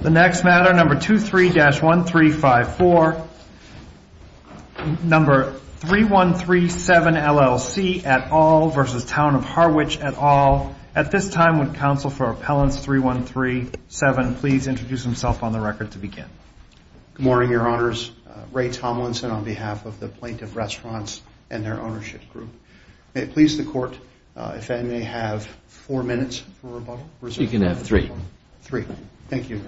The next matter, number 23-1354, number 3137, LLC, et al, versus Town of Harwich, et al. At this time, would counsel for Appellants 3137 please introduce himself on the record to begin? Good morning, Your Honors. Ray Tomlinson on behalf of the Plaintiff Restaurants and their ownership group. May it please the Court if I may have four minutes for rebuttal? You can have three. Three. Thank you.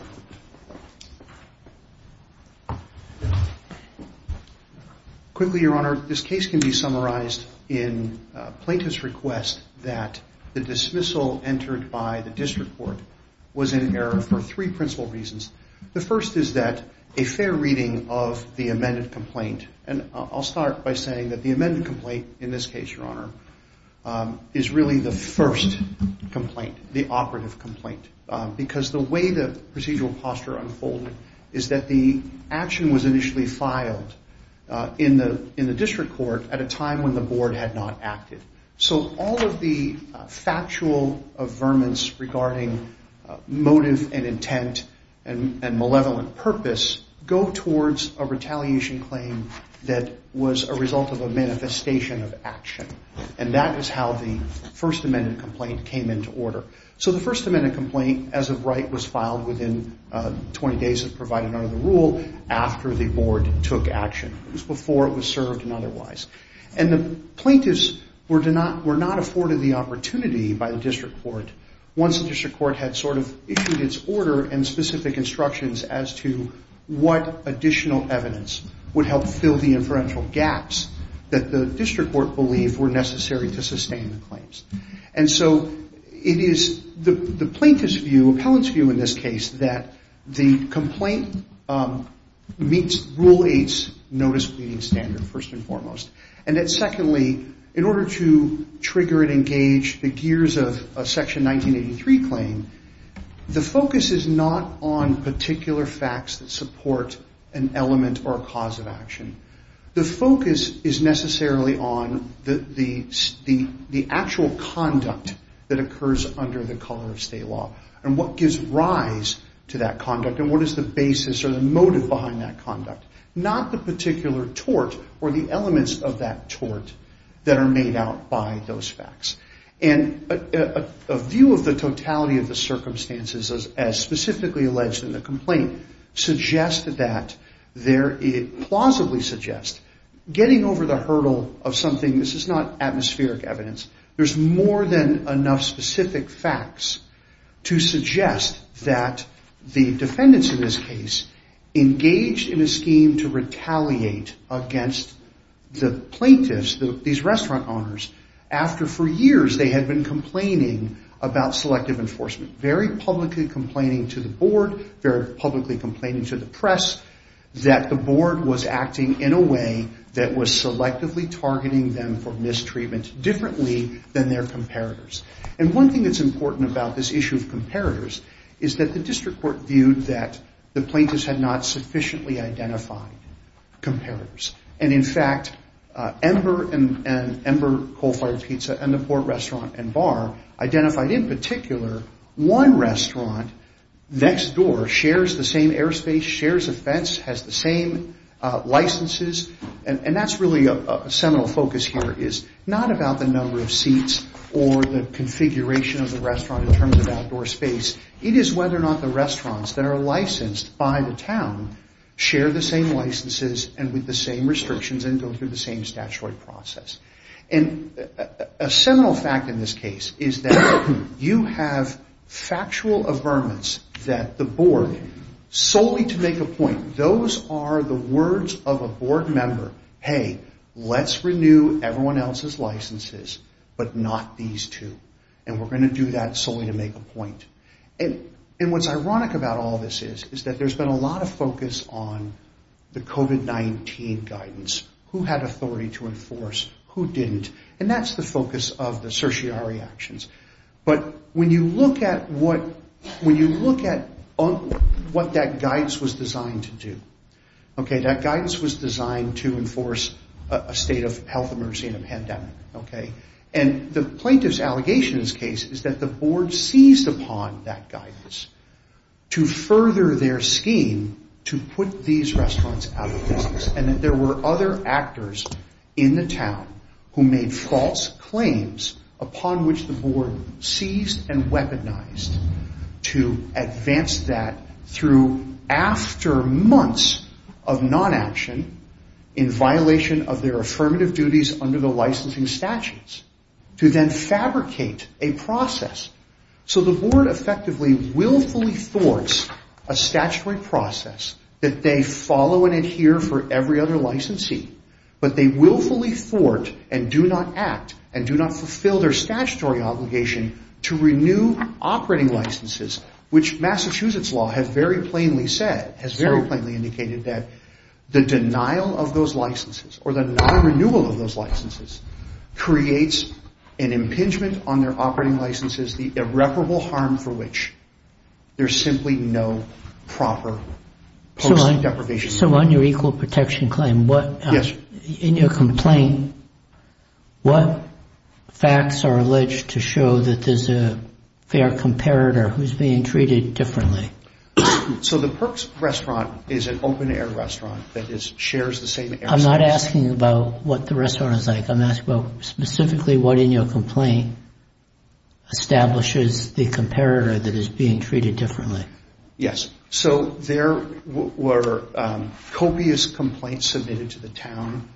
Quickly, Your Honor, this case can be summarized in Plaintiff's request that the dismissal entered by the District Court was in error for three principal reasons. The first is that a fair reading of the amended complaint, and I'll start by saying that the amended complaint in this case, Your Honor, is really the first complaint, the operative complaint. Because the way the procedural posture unfolded is that the action was initially filed in the District Court at a time when the Board had not acted. So all of the factual affirmance regarding motive and intent and malevolent purpose go towards a retaliation claim that was a result of a manifestation of action. And that is how the First Amendment complaint came into order. So the First Amendment complaint, as of right, was filed within 20 days of providing under the rule after the Board took action. It was before it was served and otherwise. And the plaintiffs were not afforded the opportunity by the District Court once the District Court had sort of issued its order and specific instructions as to what additional evidence would help fill the inferential gaps that the District Court believed were necessary to sustain the claims. And so it is the plaintiff's view, appellant's view in this case, that the complaint meets Rule 8's notice pleading standard, first and foremost. And that secondly, in order to trigger and engage the gears of a Section 1983 claim, the focus is not on particular facts that support an element or a cause of action. The focus is necessarily on the actual conduct that occurs under the color of state law and what gives rise to that conduct and what is the basis or the motive behind that conduct. Not the particular tort or the elements of that tort that are made out by those facts. And a view of the totality of the circumstances as specifically alleged in the complaint suggests that there is, plausibly suggests, getting over the hurdle of something, this is not atmospheric evidence, there's more than enough specific facts to suggest that the defendants in this case engaged in a scheme to retaliate against the plaintiffs, these restaurant owners, after for years they had been complaining about selective enforcement, very publicly complaining to the board, very publicly complaining to the press, that the board was acting in a way that was selectively targeting them for mistreatment differently than their comparators. And one thing that's important about this issue of comparators is that the District Court viewed that the plaintiffs had not sufficiently identified comparators. And in fact, Ember and Ember Coal Fired Pizza and the Port Restaurant and Bar identified in particular one restaurant next door shares the same airspace, shares a fence, has the same licenses, and that's really a seminal focus here is not about the number of seats or the configuration of the restaurant in terms of outdoor space. It is whether or not the restaurants that are licensed by the town share the same licenses and with the same restrictions and go through the same statutory process. And a seminal fact in this case is that you have factual affirmance that the board, solely to make a point, those are the words of a board member, hey, let's renew everyone else's licenses, but not these two, and we're going to do that solely to make a point. And what's ironic about all this is that there's been a lot of focus on the COVID-19 guidance, who had authority to enforce, who didn't, and that's the focus of the certiorari actions. But when you look at what that guidance was designed to do, okay, that guidance was designed to enforce a state of health emergency and a pandemic, okay, and the plaintiff's allegation in this case is that the board seized upon that guidance to further their scheme to put these restaurants out of business and that there were other actors in the town who made false claims upon which the board seized and weaponized to advance that through after months of non-action in violation of their affirmative duties under the licensing statutes to then fabricate a process. So the board effectively willfully thwarts a statutory process that they follow and adhere for every other licensee, but they willfully thwart and do not act and do not fulfill their statutory obligation to renew operating licenses, which Massachusetts law has very plainly said, has very plainly indicated that the denial of those licenses or the non-renewal of those licenses creates an impingement on their operating licenses, the irreparable harm for which there's simply no proper posting deprivation. So on your equal protection claim, in your complaint, what facts are alleged to show that there's a fair comparator who's being treated differently? So the Perks restaurant is an open-air restaurant that shares the same airspace. I'm not asking about what the restaurant is like. I'm asking about specifically what in your complaint establishes the comparator that is being treated differently. Yes. So there were copious complaints submitted to the town,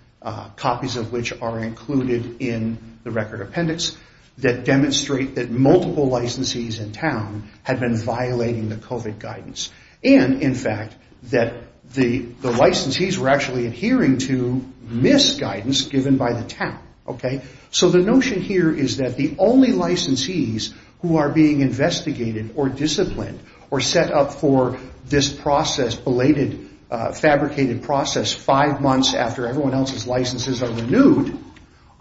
copies of which are included in the record appendix, that demonstrate that multiple licensees in town had been violating the COVID guidance. And, in fact, that the licensees were actually adhering to misguidance given by the town. So the notion here is that the only licensees who are being investigated or disciplined or set up for this process, belated, fabricated process, five months after everyone else's licenses are renewed,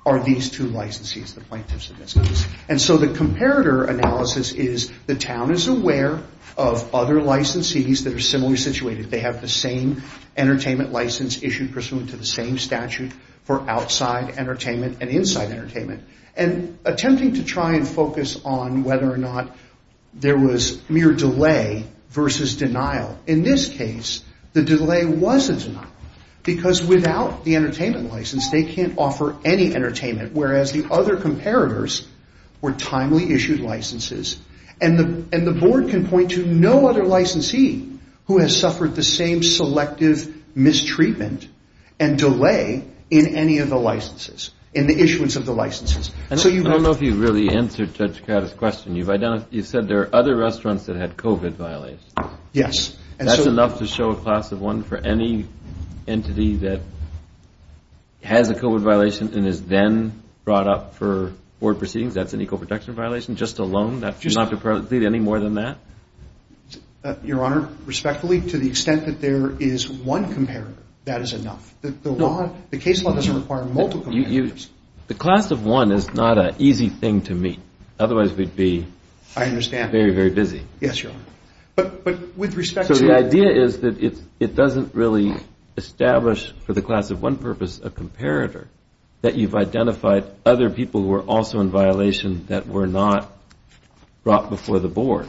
are these two licensees, the plaintiffs and businessmen. And so the comparator analysis is the town is aware of other licensees that are similarly situated. They have the same entertainment license issued pursuant to the same statute for outside entertainment and inside entertainment. And attempting to try and focus on whether or not there was mere delay versus denial, in this case, the delay was a denial. Because without the entertainment license, they can't offer any entertainment, whereas the other comparators were timely issued licenses. And the board can point to no other licensee who has suffered the same selective mistreatment and delay in any of the licenses, in the issuance of the licenses. I don't know if you've really answered Judge Craddock's question. You've said there are other restaurants that had COVID violations. Yes. That's enough to show a class of one for any entity that has a COVID violation and is then brought up for board proceedings? That's an equal protection violation just alone? Not to proceed any more than that? Your Honor, respectfully, to the extent that there is one comparator, that is enough. The case law doesn't require multiple comparators. Your Honor, the class of one is not an easy thing to meet. Otherwise, we'd be very, very busy. Yes, Your Honor. So the idea is that it doesn't really establish, for the class of one purpose, a comparator. That you've identified other people who are also in violation that were not brought before the board.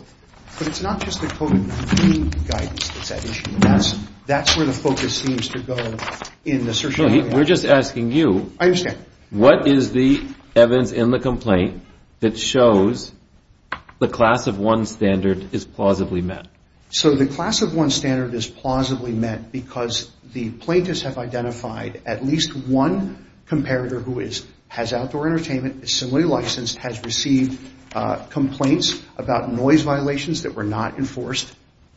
But it's not just the COVID-19 guidance that's at issue. That's where the focus seems to go in the search. We're just asking you. I understand. What is the evidence in the complaint that shows the class of one standard is plausibly met? So the class of one standard is plausibly met because the plaintiffs have identified at least one comparator who has outdoor entertainment, is similarly licensed, has received complaints about noise violations that were not enforced,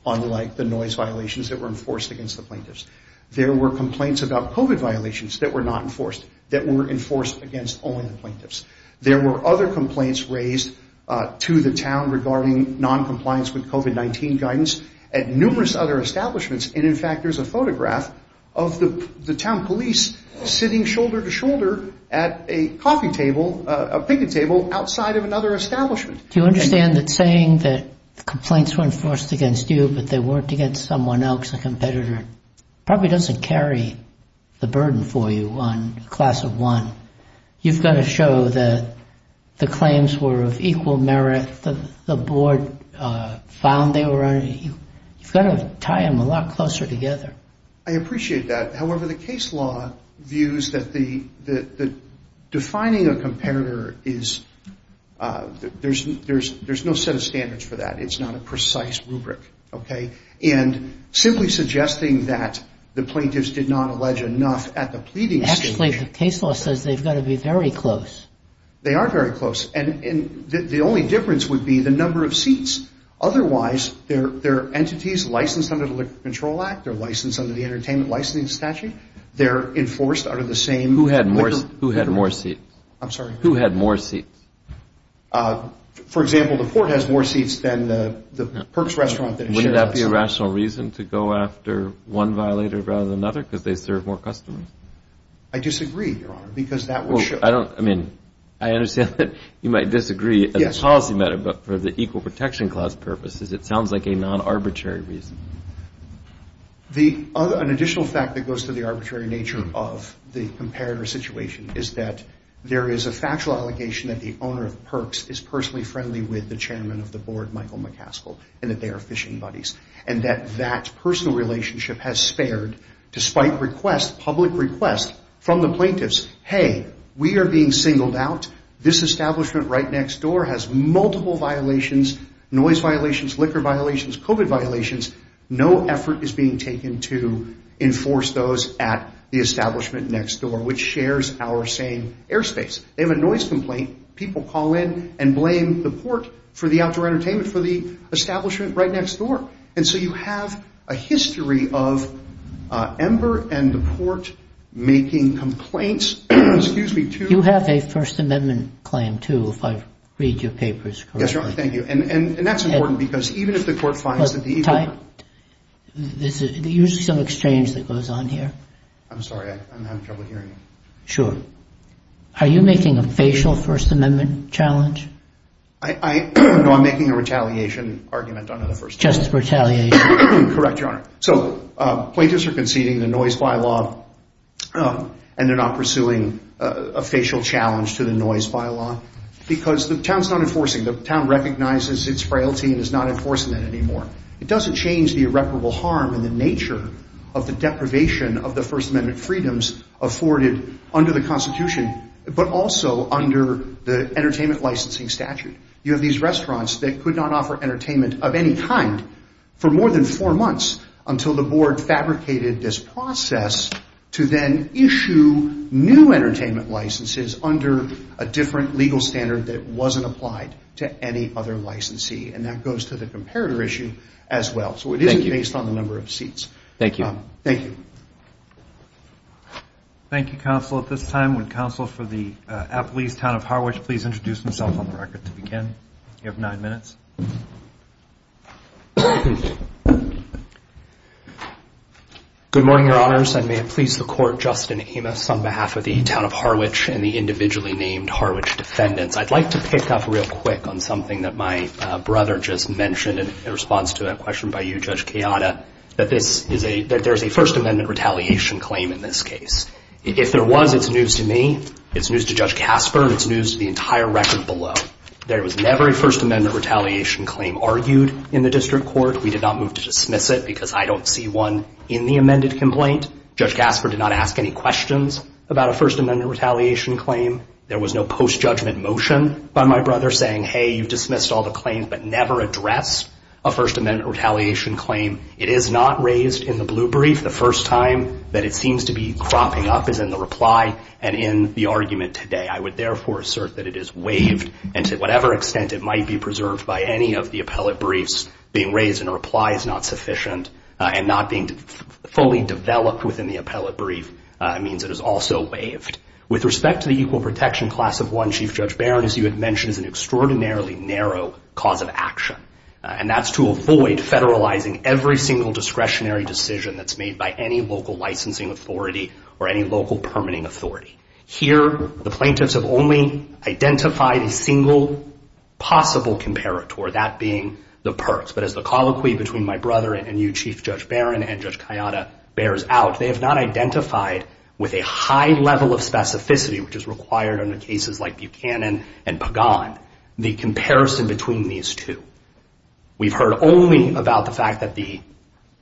unlike the noise violations that were enforced against the plaintiffs. There were complaints about COVID violations that were not enforced, that were enforced against only the plaintiffs. There were other complaints raised to the town regarding noncompliance with COVID-19 guidance at numerous other establishments. And, in fact, there's a photograph of the town police sitting shoulder to shoulder at a coffee table, a picnic table, outside of another establishment. Do you understand that saying that complaints were enforced against you but they weren't against someone else, a competitor, probably doesn't carry the burden for you on class of one. You've got to show that the claims were of equal merit. The board found they were. You've got to tie them a lot closer together. I appreciate that. However, the case law views that defining a comparator is, there's no set of standards for that. It's not a precise rubric. Okay? And simply suggesting that the plaintiffs did not allege enough at the pleading stage. Actually, the case law says they've got to be very close. They are very close. And the only difference would be the number of seats. Otherwise, they're entities licensed under the Liquor Control Act. They're licensed under the Entertainment Licensing Statute. They're enforced under the same liquor control act. Who had more seats? I'm sorry? Who had more seats? For example, the court has more seats than the Perks restaurant that it shares with us. Wouldn't that be a rational reason to go after one violator rather than another because they serve more customers? I disagree, Your Honor, because that would show. I understand that you might disagree as a policy matter, but for the Equal Protection Clause purposes, it sounds like a non-arbitrary reason. An additional fact that goes to the arbitrary nature of the comparator situation is that there is a factual allegation that the owner of Perks is personally friendly with the chairman of the board, Michael McCaskill, and that they are fishing buddies. And that that personal relationship has spared, despite requests, public requests, from the plaintiffs, hey, we are being singled out. This establishment right next door has multiple violations, noise violations, liquor violations, COVID violations. No effort is being taken to enforce those at the establishment next door, which shares our same airspace. They have a noise complaint. People call in and blame the port for the outdoor entertainment for the establishment right next door. And so you have a history of Ember and the port making complaints, excuse me, to- You have a First Amendment claim, too, if I read your papers correctly. Yes, Your Honor, thank you. And that's important because even if the court finds that the- Ty, there's usually some exchange that goes on here. I'm sorry. I'm having trouble hearing you. Sure. Are you making a facial First Amendment challenge? No, I'm making a retaliation argument on the First Amendment. Just retaliation. Correct, Your Honor. So plaintiffs are conceding the noise bylaw, and they're not pursuing a facial challenge to the noise bylaw, because the town's not enforcing. The town recognizes its frailty and is not enforcing it anymore. It doesn't change the irreparable harm and the nature of the deprivation of the First Amendment freedoms afforded under the Constitution, but also under the entertainment licensing statute. You have these restaurants that could not offer entertainment of any kind for more than four months until the board fabricated this process to then issue new entertainment licenses under a different legal standard that wasn't applied to any other licensee, and that goes to the comparator issue as well. So it isn't based on the number of seats. Thank you. Thank you, Counsel. At this time, would Counsel for the Appalese Town of Harwich please introduce himself on the record to begin? You have nine minutes. Good morning, Your Honors. I may have pleased the Court, Justin Amos, on behalf of the Town of Harwich and the individually named Harwich defendants. I'd like to pick up real quick on something that my brother just mentioned in response to a question by you, Judge Kayada, that there's a First Amendment retaliation claim in this case. If there was, it's news to me, it's news to Judge Kasper, and it's news to the entire record below. There was never a First Amendment retaliation claim argued in the district court. We did not move to dismiss it because I don't see one in the amended complaint. Judge Kasper did not ask any questions about a First Amendment retaliation claim. There was no post-judgment motion by my brother saying, hey, you've dismissed all the claims, but never addressed a First Amendment retaliation claim. It is not raised in the blue brief. The first time that it seems to be cropping up is in the reply and in the argument today. I would therefore assert that it is waived, and to whatever extent it might be preserved by any of the appellate briefs, being raised in a reply is not sufficient, and not being fully developed within the appellate brief means it is also waived. With respect to the Equal Protection Class of 1 Chief Judge Barron, as you had mentioned, it is an extraordinarily narrow cause of action, and that's to avoid federalizing every single discretionary decision that's made by any local licensing authority or any local permitting authority. Here, the plaintiffs have only identified a single possible comparator, that being the perks. But as the colloquy between my brother and you, Chief Judge Barron, and Judge Kayada bears out, they have not identified with a high level of specificity, which is required under cases like Buchanan and Pagan, the comparison between these two. We've heard only about the fact that the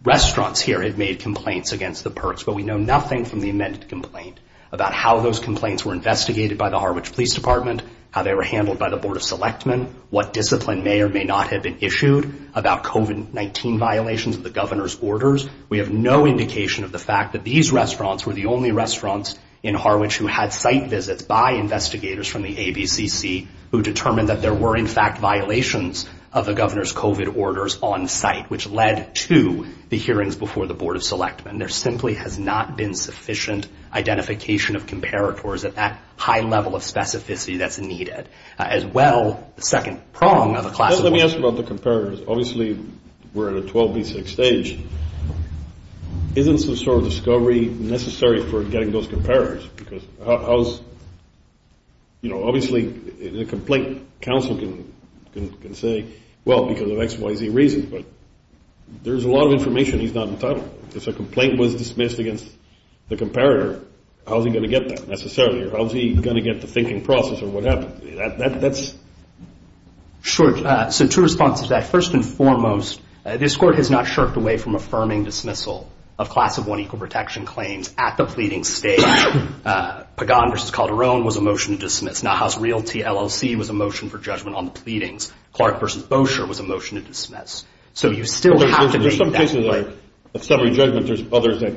restaurants here have made complaints against the perks, but we know nothing from the amended complaint about how those complaints were investigated by the Harwich Police Department, how they were handled by the Board of Selectmen, what discipline may or may not have been issued about COVID-19 violations of the governor's orders. We have no indication of the fact that these restaurants were the only restaurants in Harwich who had site visits by investigators from the ABCC who determined that there were, in fact, violations of the governor's COVID orders on site, which led to the hearings before the Board of Selectmen. There simply has not been sufficient identification of comparators at that high level of specificity that's needed. Let me ask you about the comparators. Obviously, we're in a 12B6 stage. Isn't some sort of discovery necessary for getting those comparators? Obviously, the complaint counsel can say, well, because of X, Y, Z reasons, but there's a lot of information he's not entitled to. If a complaint was dismissed against the comparator, how's he going to get that necessarily? How's he going to get the thinking process of what happened? Sure. So two responses to that. First and foremost, this Court has not shirked away from affirming dismissal of Class of 1 equal protection claims at the pleading stage. Pagan v. Calderon was a motion to dismiss. Naha's Realty LLC was a motion for judgment on the pleadings. Clark v. Bossier was a motion to dismiss. So you still have to make that point. There's some cases of summary judgment. There's others that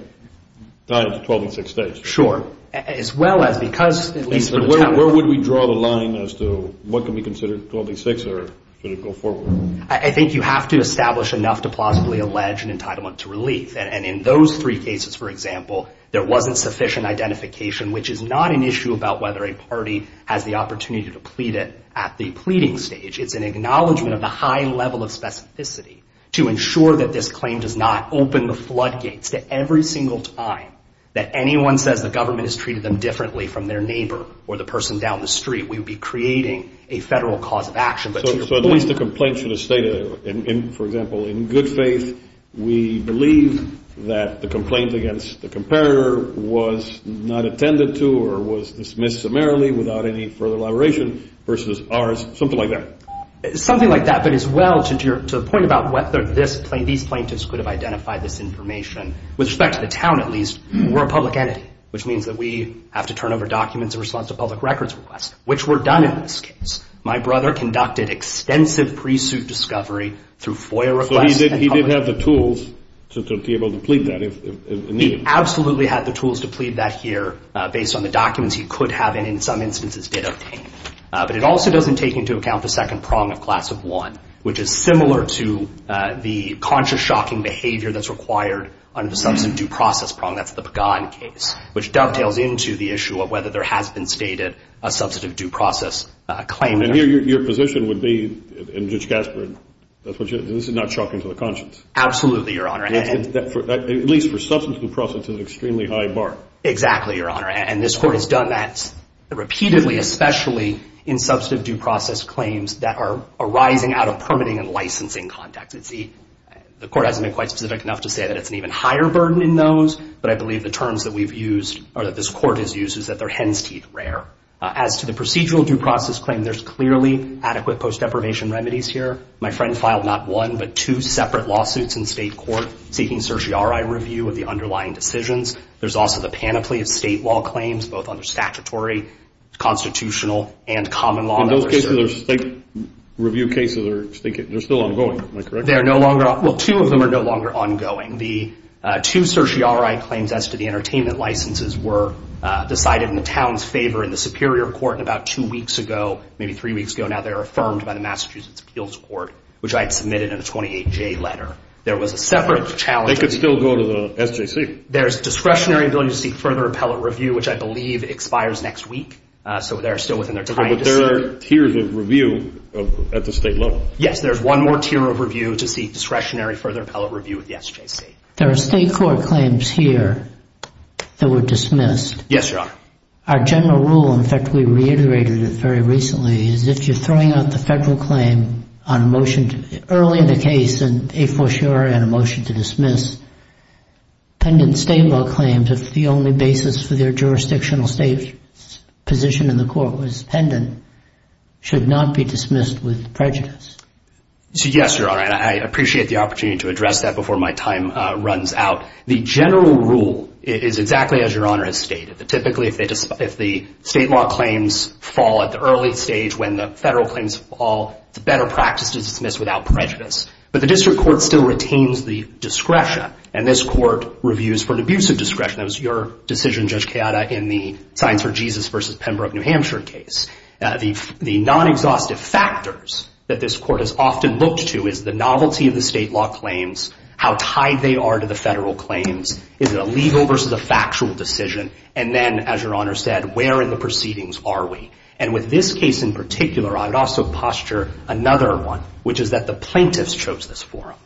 die at the 12B6 stage. Sure. As well as because, at least for the time being. Where would we draw the line as to what can be considered 12B6 or should it go forward? I think you have to establish enough to plausibly allege an entitlement to relief. And in those three cases, for example, there wasn't sufficient identification, which is not an issue about whether a party has the opportunity to plead it at the pleading stage. It's an acknowledgment of the high level of specificity to ensure that this claim does not open the floodgates to every single time that anyone says the government has treated them differently from their neighbor or the person down the street. We would be creating a federal cause of action. So at least the complaint should have stated, for example, in good faith, we believe that the complaint against the comparator was not attended to or was dismissed summarily without any further elaboration versus ours. Something like that. Something like that. But as well, to the point about whether these plaintiffs could have identified this information, with respect to the town at least, we're a public entity, which means that we have to turn over documents in response to public records requests, which were done in this case. My brother conducted extensive pre-suit discovery through FOIA requests. So he did have the tools to be able to plead that if needed. He absolutely had the tools to plead that here based on the documents he could have and in some instances did obtain. But it also doesn't take into account the second prong of class of one, which is similar to the conscious shocking behavior that's required under the substantive due process prong. That's the Pagan case, which dovetails into the issue of whether there has been stated a substantive due process claim. And here your position would be, in Judge Gaspard, this is not shocking to the conscience. Absolutely, Your Honor. At least for substantive due process, it's an extremely high bar. Exactly, Your Honor. And this Court has done that repeatedly, especially in substantive due process claims that are arising out of permitting and licensing context. The Court hasn't been quite specific enough to say that it's an even higher burden in those, but I believe the terms that we've used or that this Court has used is that they're hen's teeth rare. As to the procedural due process claim, there's clearly adequate post-deprivation remedies here. My friend filed not one but two separate lawsuits in state court seeking certiorari review of the underlying decisions. There's also the panoply of state law claims, both under statutory, constitutional, and common law. On those cases, state review cases are still ongoing, am I correct? They are no longer ongoing. Well, two of them are no longer ongoing. The two certiorari claims as to the entertainment licenses were decided in the town's favor in the Superior Court about two weeks ago, maybe three weeks ago now. They were affirmed by the Massachusetts Appeals Court, which I had submitted in a 28-J letter. There was a separate challenge. They could still go to the SJC. There's discretionary ability to seek further appellate review, which I believe expires next week. So they're still within their time to seek. But there are tiers of review at the state level. Yes. There's one more tier of review to seek discretionary further appellate review at the SJC. There are state court claims here that were dismissed. Yes, Your Honor. Our general rule, in fact, we reiterated it very recently, is if you're throwing out the federal claim on a motion early in the case and a fortiori on a motion to dismiss, pendent state law claims if the only basis for their jurisdictional state position in the court was pendent, should not be dismissed with prejudice. Yes, Your Honor. I appreciate the opportunity to address that before my time runs out. The general rule is exactly as Your Honor has stated. Typically, if the state law claims fall at the early stage when the federal claims fall, it's a better practice to dismiss without prejudice. But the district court still retains the discretion, and this court reviews for an abusive discretion. That was your decision, Judge Keada, in the Science for Jesus v. Pembroke, New Hampshire case. The non-exhaustive factors that this court has often looked to is the novelty of the state law claims, how tied they are to the federal claims, is it a legal versus a factual decision, and then, as Your Honor said, where in the proceedings are we? And with this case in particular, I would also posture another one, which is that the plaintiffs chose this forum.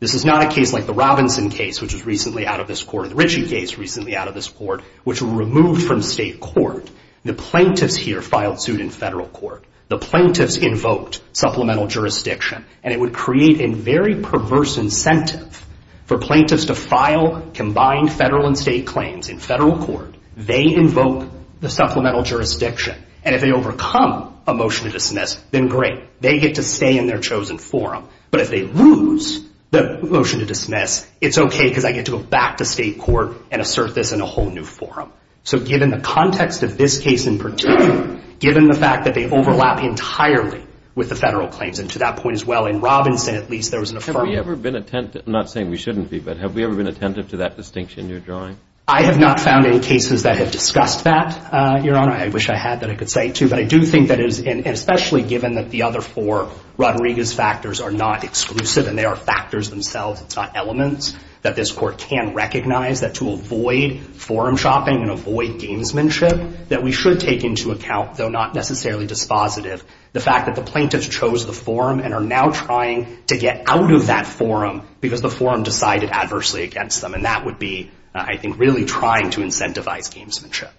This is not a case like the Robinson case, which was recently out of this court, or the Ritchie case, recently out of this court, which were removed from state court. The plaintiffs here filed suit in federal court. The plaintiffs invoked supplemental jurisdiction, and it would create a very perverse incentive for plaintiffs to file combined federal and state claims in federal court. They invoke the supplemental jurisdiction, and if they overcome a motion to dismiss, then great. They get to stay in their chosen forum. But if they lose the motion to dismiss, it's okay because I get to go back to state court and assert this in a whole new forum. So given the context of this case in particular, given the fact that they overlap entirely with the federal claims, and to that point as well, in Robinson, at least, there was an affirmative. Have we ever been attentive? I'm not saying we shouldn't be, but have we ever been attentive to that distinction you're drawing? I have not found any cases that have discussed that, Your Honor. I wish I had that I could say, too. But I do think that especially given that the other four Rodriguez factors are not exclusive and they are factors themselves, it's not elements, that this court can recognize that to avoid forum shopping and avoid gamesmanship, that we should take into account, though not necessarily dispositive, the fact that the plaintiffs chose the forum and are now trying to get out of that forum because the forum decided adversely against them. And that would be, I think, really trying to incentivize gamesmanship.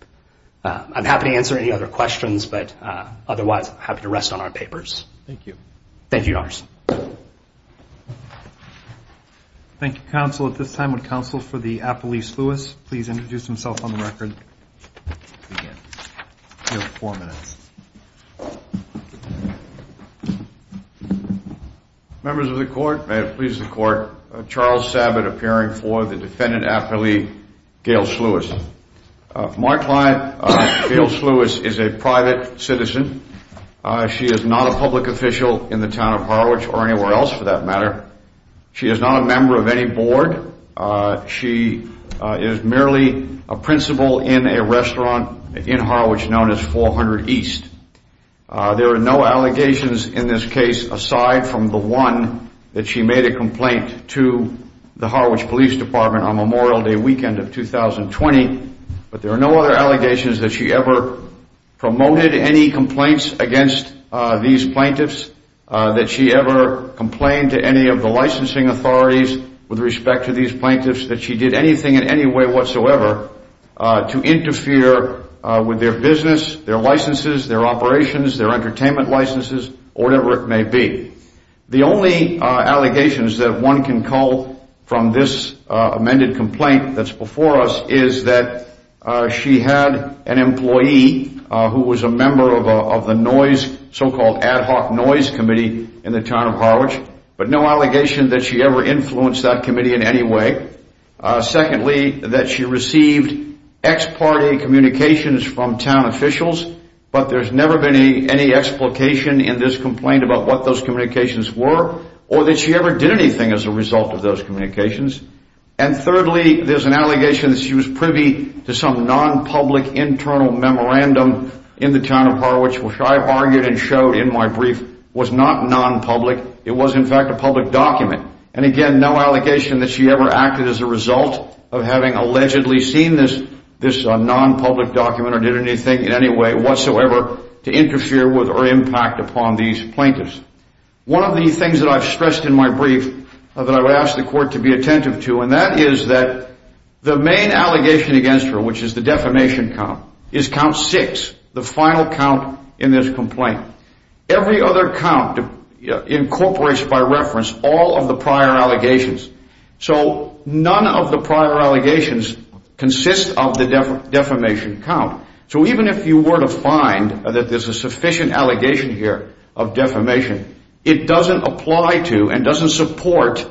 I'm happy to answer any other questions, but otherwise, I'm happy to rest on our papers. Thank you. Thank you, Your Honor. Thank you, counsel. At this time, would counsel for the Appellee Sluis please introduce himself on the record? You have four minutes. Members of the court, may it please the court, Charles Sabbat, appearing for the defendant, Appellee Gail Sluis. My client, Gail Sluis, is a private citizen. She is not a public official in the town of Harwich or anywhere else, for that matter. She is not a member of any board. She is merely a principal in a restaurant in Harwich known as 400 East. There are no allegations in this case aside from the one that she made a complaint to the Harwich Police Department on Memorial Day weekend of 2020. But there are no other allegations that she ever promoted any complaints against these plaintiffs, that she ever complained to any of the licensing authorities with respect to these plaintiffs, that she did anything in any way whatsoever to interfere with their business, their licenses, their operations, their entertainment licenses, or whatever it may be. The only allegations that one can call from this amended complaint that's before us is that she had an employee who was a member of the noise, so-called ad hoc noise committee in the town of Harwich, but no allegation that she ever influenced that committee in any way. Secondly, that she received ex-party communications from town officials, but there's never been any explication in this complaint about what those communications were or that she ever did anything as a result of those communications. And thirdly, there's an allegation that she was privy to some non-public internal memorandum in the town of Harwich, which I argued and showed in my brief, was not non-public. It was, in fact, a public document. And again, no allegation that she ever acted as a result of having allegedly seen this non-public document or did anything in any way whatsoever to interfere with or impact upon these plaintiffs. One of the things that I've stressed in my brief that I would ask the court to be attentive to, and that is that the main allegation against her, which is the defamation count, is count six, the final count in this complaint. Every other count incorporates by reference all of the prior allegations. So none of the prior allegations consist of the defamation count. So even if you were to find that there's a sufficient allegation here of defamation, it doesn't apply to and doesn't support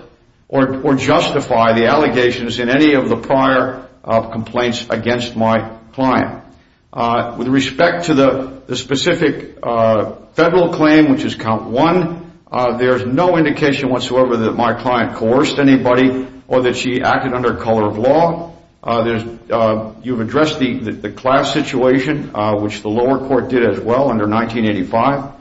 or justify the allegations in any of the prior complaints against my client. With respect to the specific federal claim, which is count one, there's no indication whatsoever that my client coerced anybody or that she acted under color of law. You've addressed the class situation, which the lower court did as well under 1985.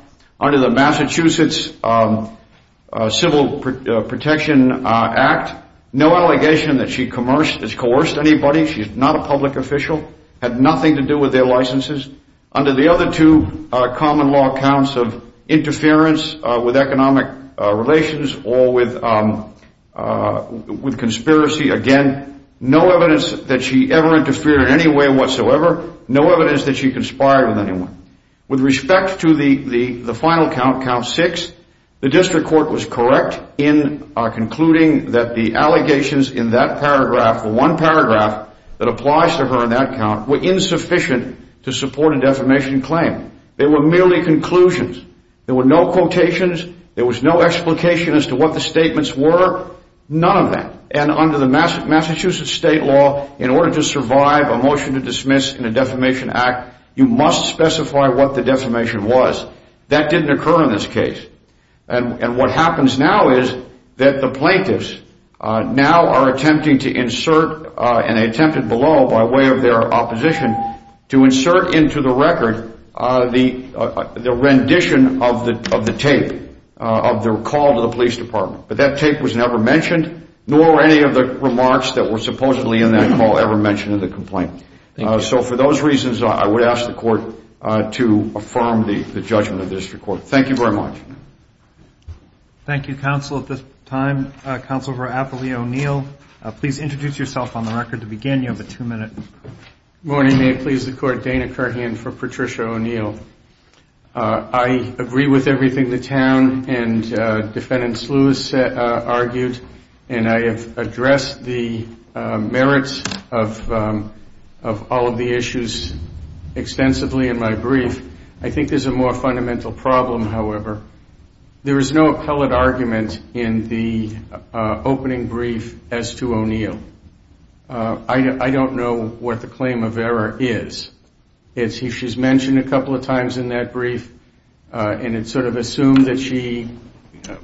Under the Massachusetts Civil Protection Act, no allegation that she coerced anybody. She's not a public official, had nothing to do with their licenses. Under the other two common law counts of interference with economic relations or with conspiracy, again, no evidence that she ever interfered in any way whatsoever, no evidence that she conspired with anyone. With respect to the final count, count six, the district court was correct in concluding that the allegations in that paragraph, the one paragraph that applies to her in that count, were insufficient to support a defamation claim. They were merely conclusions. There were no quotations. There was no explication as to what the statements were, none of that. And under the Massachusetts state law, in order to survive a motion to dismiss in a defamation act, you must specify what the defamation was. That didn't occur in this case. And what happens now is that the plaintiffs now are attempting to insert, and they attempted below by way of their opposition, to insert into the record the rendition of the tape of their call to the police department. But that tape was never mentioned, nor any of the remarks that were supposedly in that call ever mentioned in the complaint. So for those reasons, I would ask the court to affirm the judgment of the district court. Thank you very much. Thank you, Counsel. At this time, Counsel for Appley O'Neill, please introduce yourself on the record to begin. You have a two-minute. Good morning. May it please the Court, Dana Kurhen for Patricia O'Neill. I agree with everything the town and Defendant Sluis argued, and I have addressed the merits of all of the issues extensively in my brief. I think there's a more fundamental problem, however. There is no appellate argument in the opening brief as to O'Neill. I don't know what the claim of error is. She's mentioned a couple of times in that brief, and it's sort of assumed that she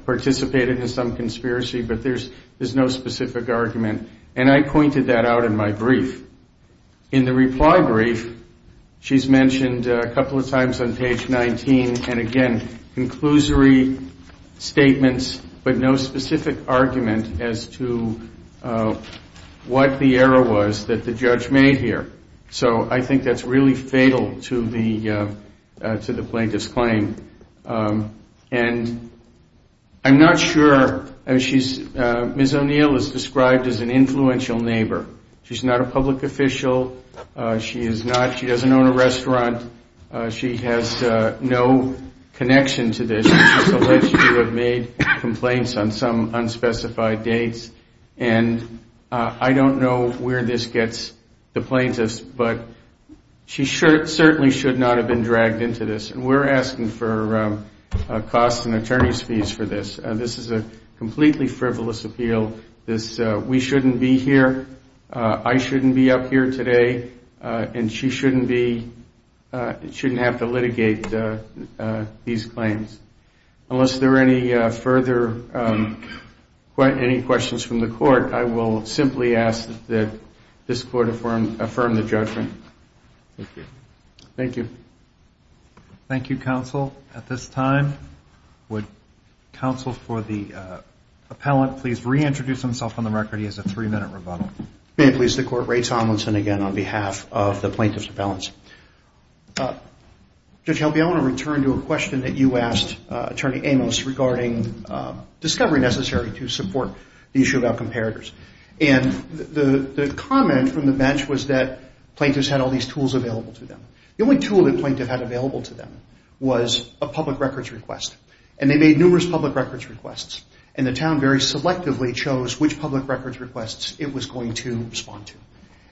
participated in some conspiracy, but there's no specific argument, and I pointed that out in my brief. In the reply brief, she's mentioned a couple of times on page 19, and again, conclusory statements, but no specific argument as to what the error was that the judge made here. So I think that's really fatal to the plaintiff's claim. And I'm not sure. Ms. O'Neill is described as an influential neighbor. She's not a public official. She doesn't own a restaurant. She has no connection to this. She's alleged to have made complaints on some unspecified dates, and I don't know where this gets the plaintiffs, but she certainly should not have been dragged into this, and we're asking for costs and attorney's fees for this. This is a completely frivolous appeal. We shouldn't be here. I shouldn't be up here today, and she shouldn't have to litigate these claims. Unless there are any further questions from the court, I will simply ask that this court affirm the judgment. Thank you. Thank you, counsel. At this time, would counsel for the appellant please reintroduce himself on the record? He has a three-minute rebuttal. May it please the court, Ray Tomlinson again on behalf of the plaintiff's appellants. Judge Helby, I want to return to a question that you asked Attorney Amos regarding discovery necessary to support the issue about comparators, and the comment from the bench was that plaintiffs had all these tools available to them. The only tool the plaintiff had available to them was a public records request, and they made numerous public records requests, and the town very selectively chose which public records requests it was going to respond to,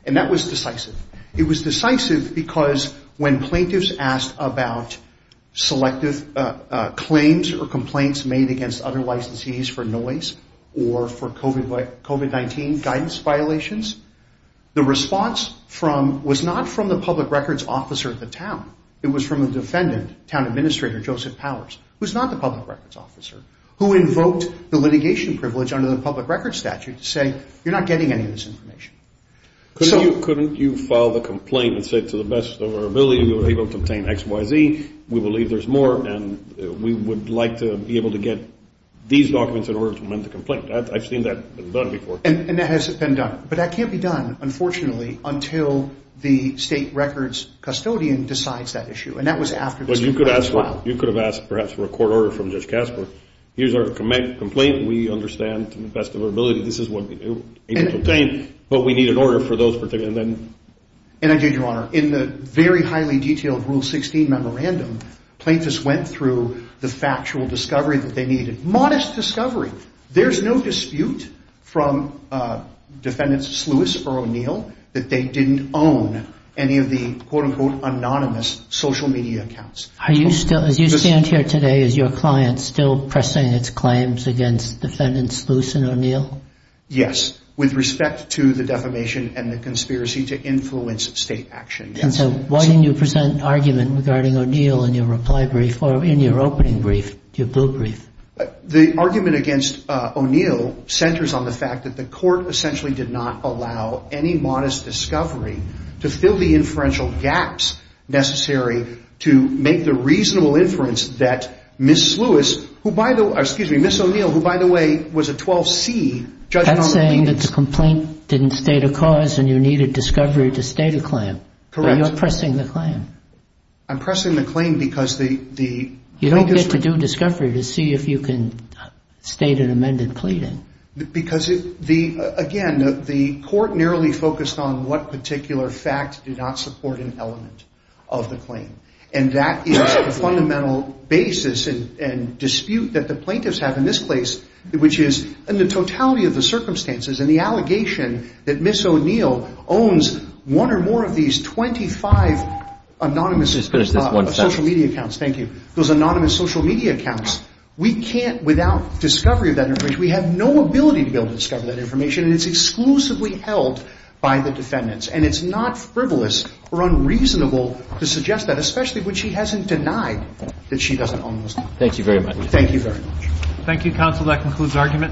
and that was decisive. It was decisive because when plaintiffs asked about selective claims or complaints made against other licensees for noise or for COVID-19 guidance violations, the response was not from the public records officer of the town. It was from the defendant, town administrator Joseph Powers, who is not the public records officer, who invoked the litigation privilege under the public records statute to say, you're not getting any of this information. Couldn't you file the complaint and say to the best of our ability, we were able to obtain X, Y, Z, we believe there's more, and we would like to be able to get these documents in order to amend the complaint? I've seen that done before. And that has been done, but that can't be done, unfortunately, until the state records custodian decides that issue, and that was after this complaint was filed. But you could have asked perhaps for a court order from Judge Casper. Here's our complaint. We understand to the best of our ability this is what we were able to obtain, but we need an order for those particular things. And I did, Your Honor. In the very highly detailed Rule 16 memorandum, plaintiffs went through the factual discovery that they needed. Modest discovery. There's no dispute from Defendants Sluis or O'Neill that they didn't own any of the quote-unquote anonymous social media accounts. Are you still, as you stand here today, is your client still pressing its claims against Defendants Sluis and O'Neill? Yes, with respect to the defamation and the conspiracy to influence state action, yes. And so why didn't you present an argument regarding O'Neill in your reply brief or in your opening brief, your blue brief? The argument against O'Neill centers on the fact that the court essentially did not allow any modest discovery to fill the inferential gaps necessary to make the reasonable inference that Ms. Sluis, who by the way, excuse me, Ms. O'Neill, who by the way was a 12C judge on the plaintiffs. That's saying that the complaint didn't state a cause and you needed discovery to state a claim. Correct. But you're pressing the claim. I'm pressing the claim because the plaintiffs were. You need to do a discovery to see if you can state an amended claim. Because, again, the court narrowly focused on what particular facts do not support an element of the claim. And that is the fundamental basis and dispute that the plaintiffs have in this case, which is in the totality of the circumstances and the allegation that Ms. O'Neill owns one or more of these 25 anonymous social media accounts. Thank you. Those anonymous social media accounts, we can't, without discovery of that information, we have no ability to be able to discover that information. And it's exclusively held by the defendants. And it's not frivolous or unreasonable to suggest that, especially when she hasn't denied that she doesn't own those. Thank you very much. Thank you very much. Thank you, counsel. That concludes argument.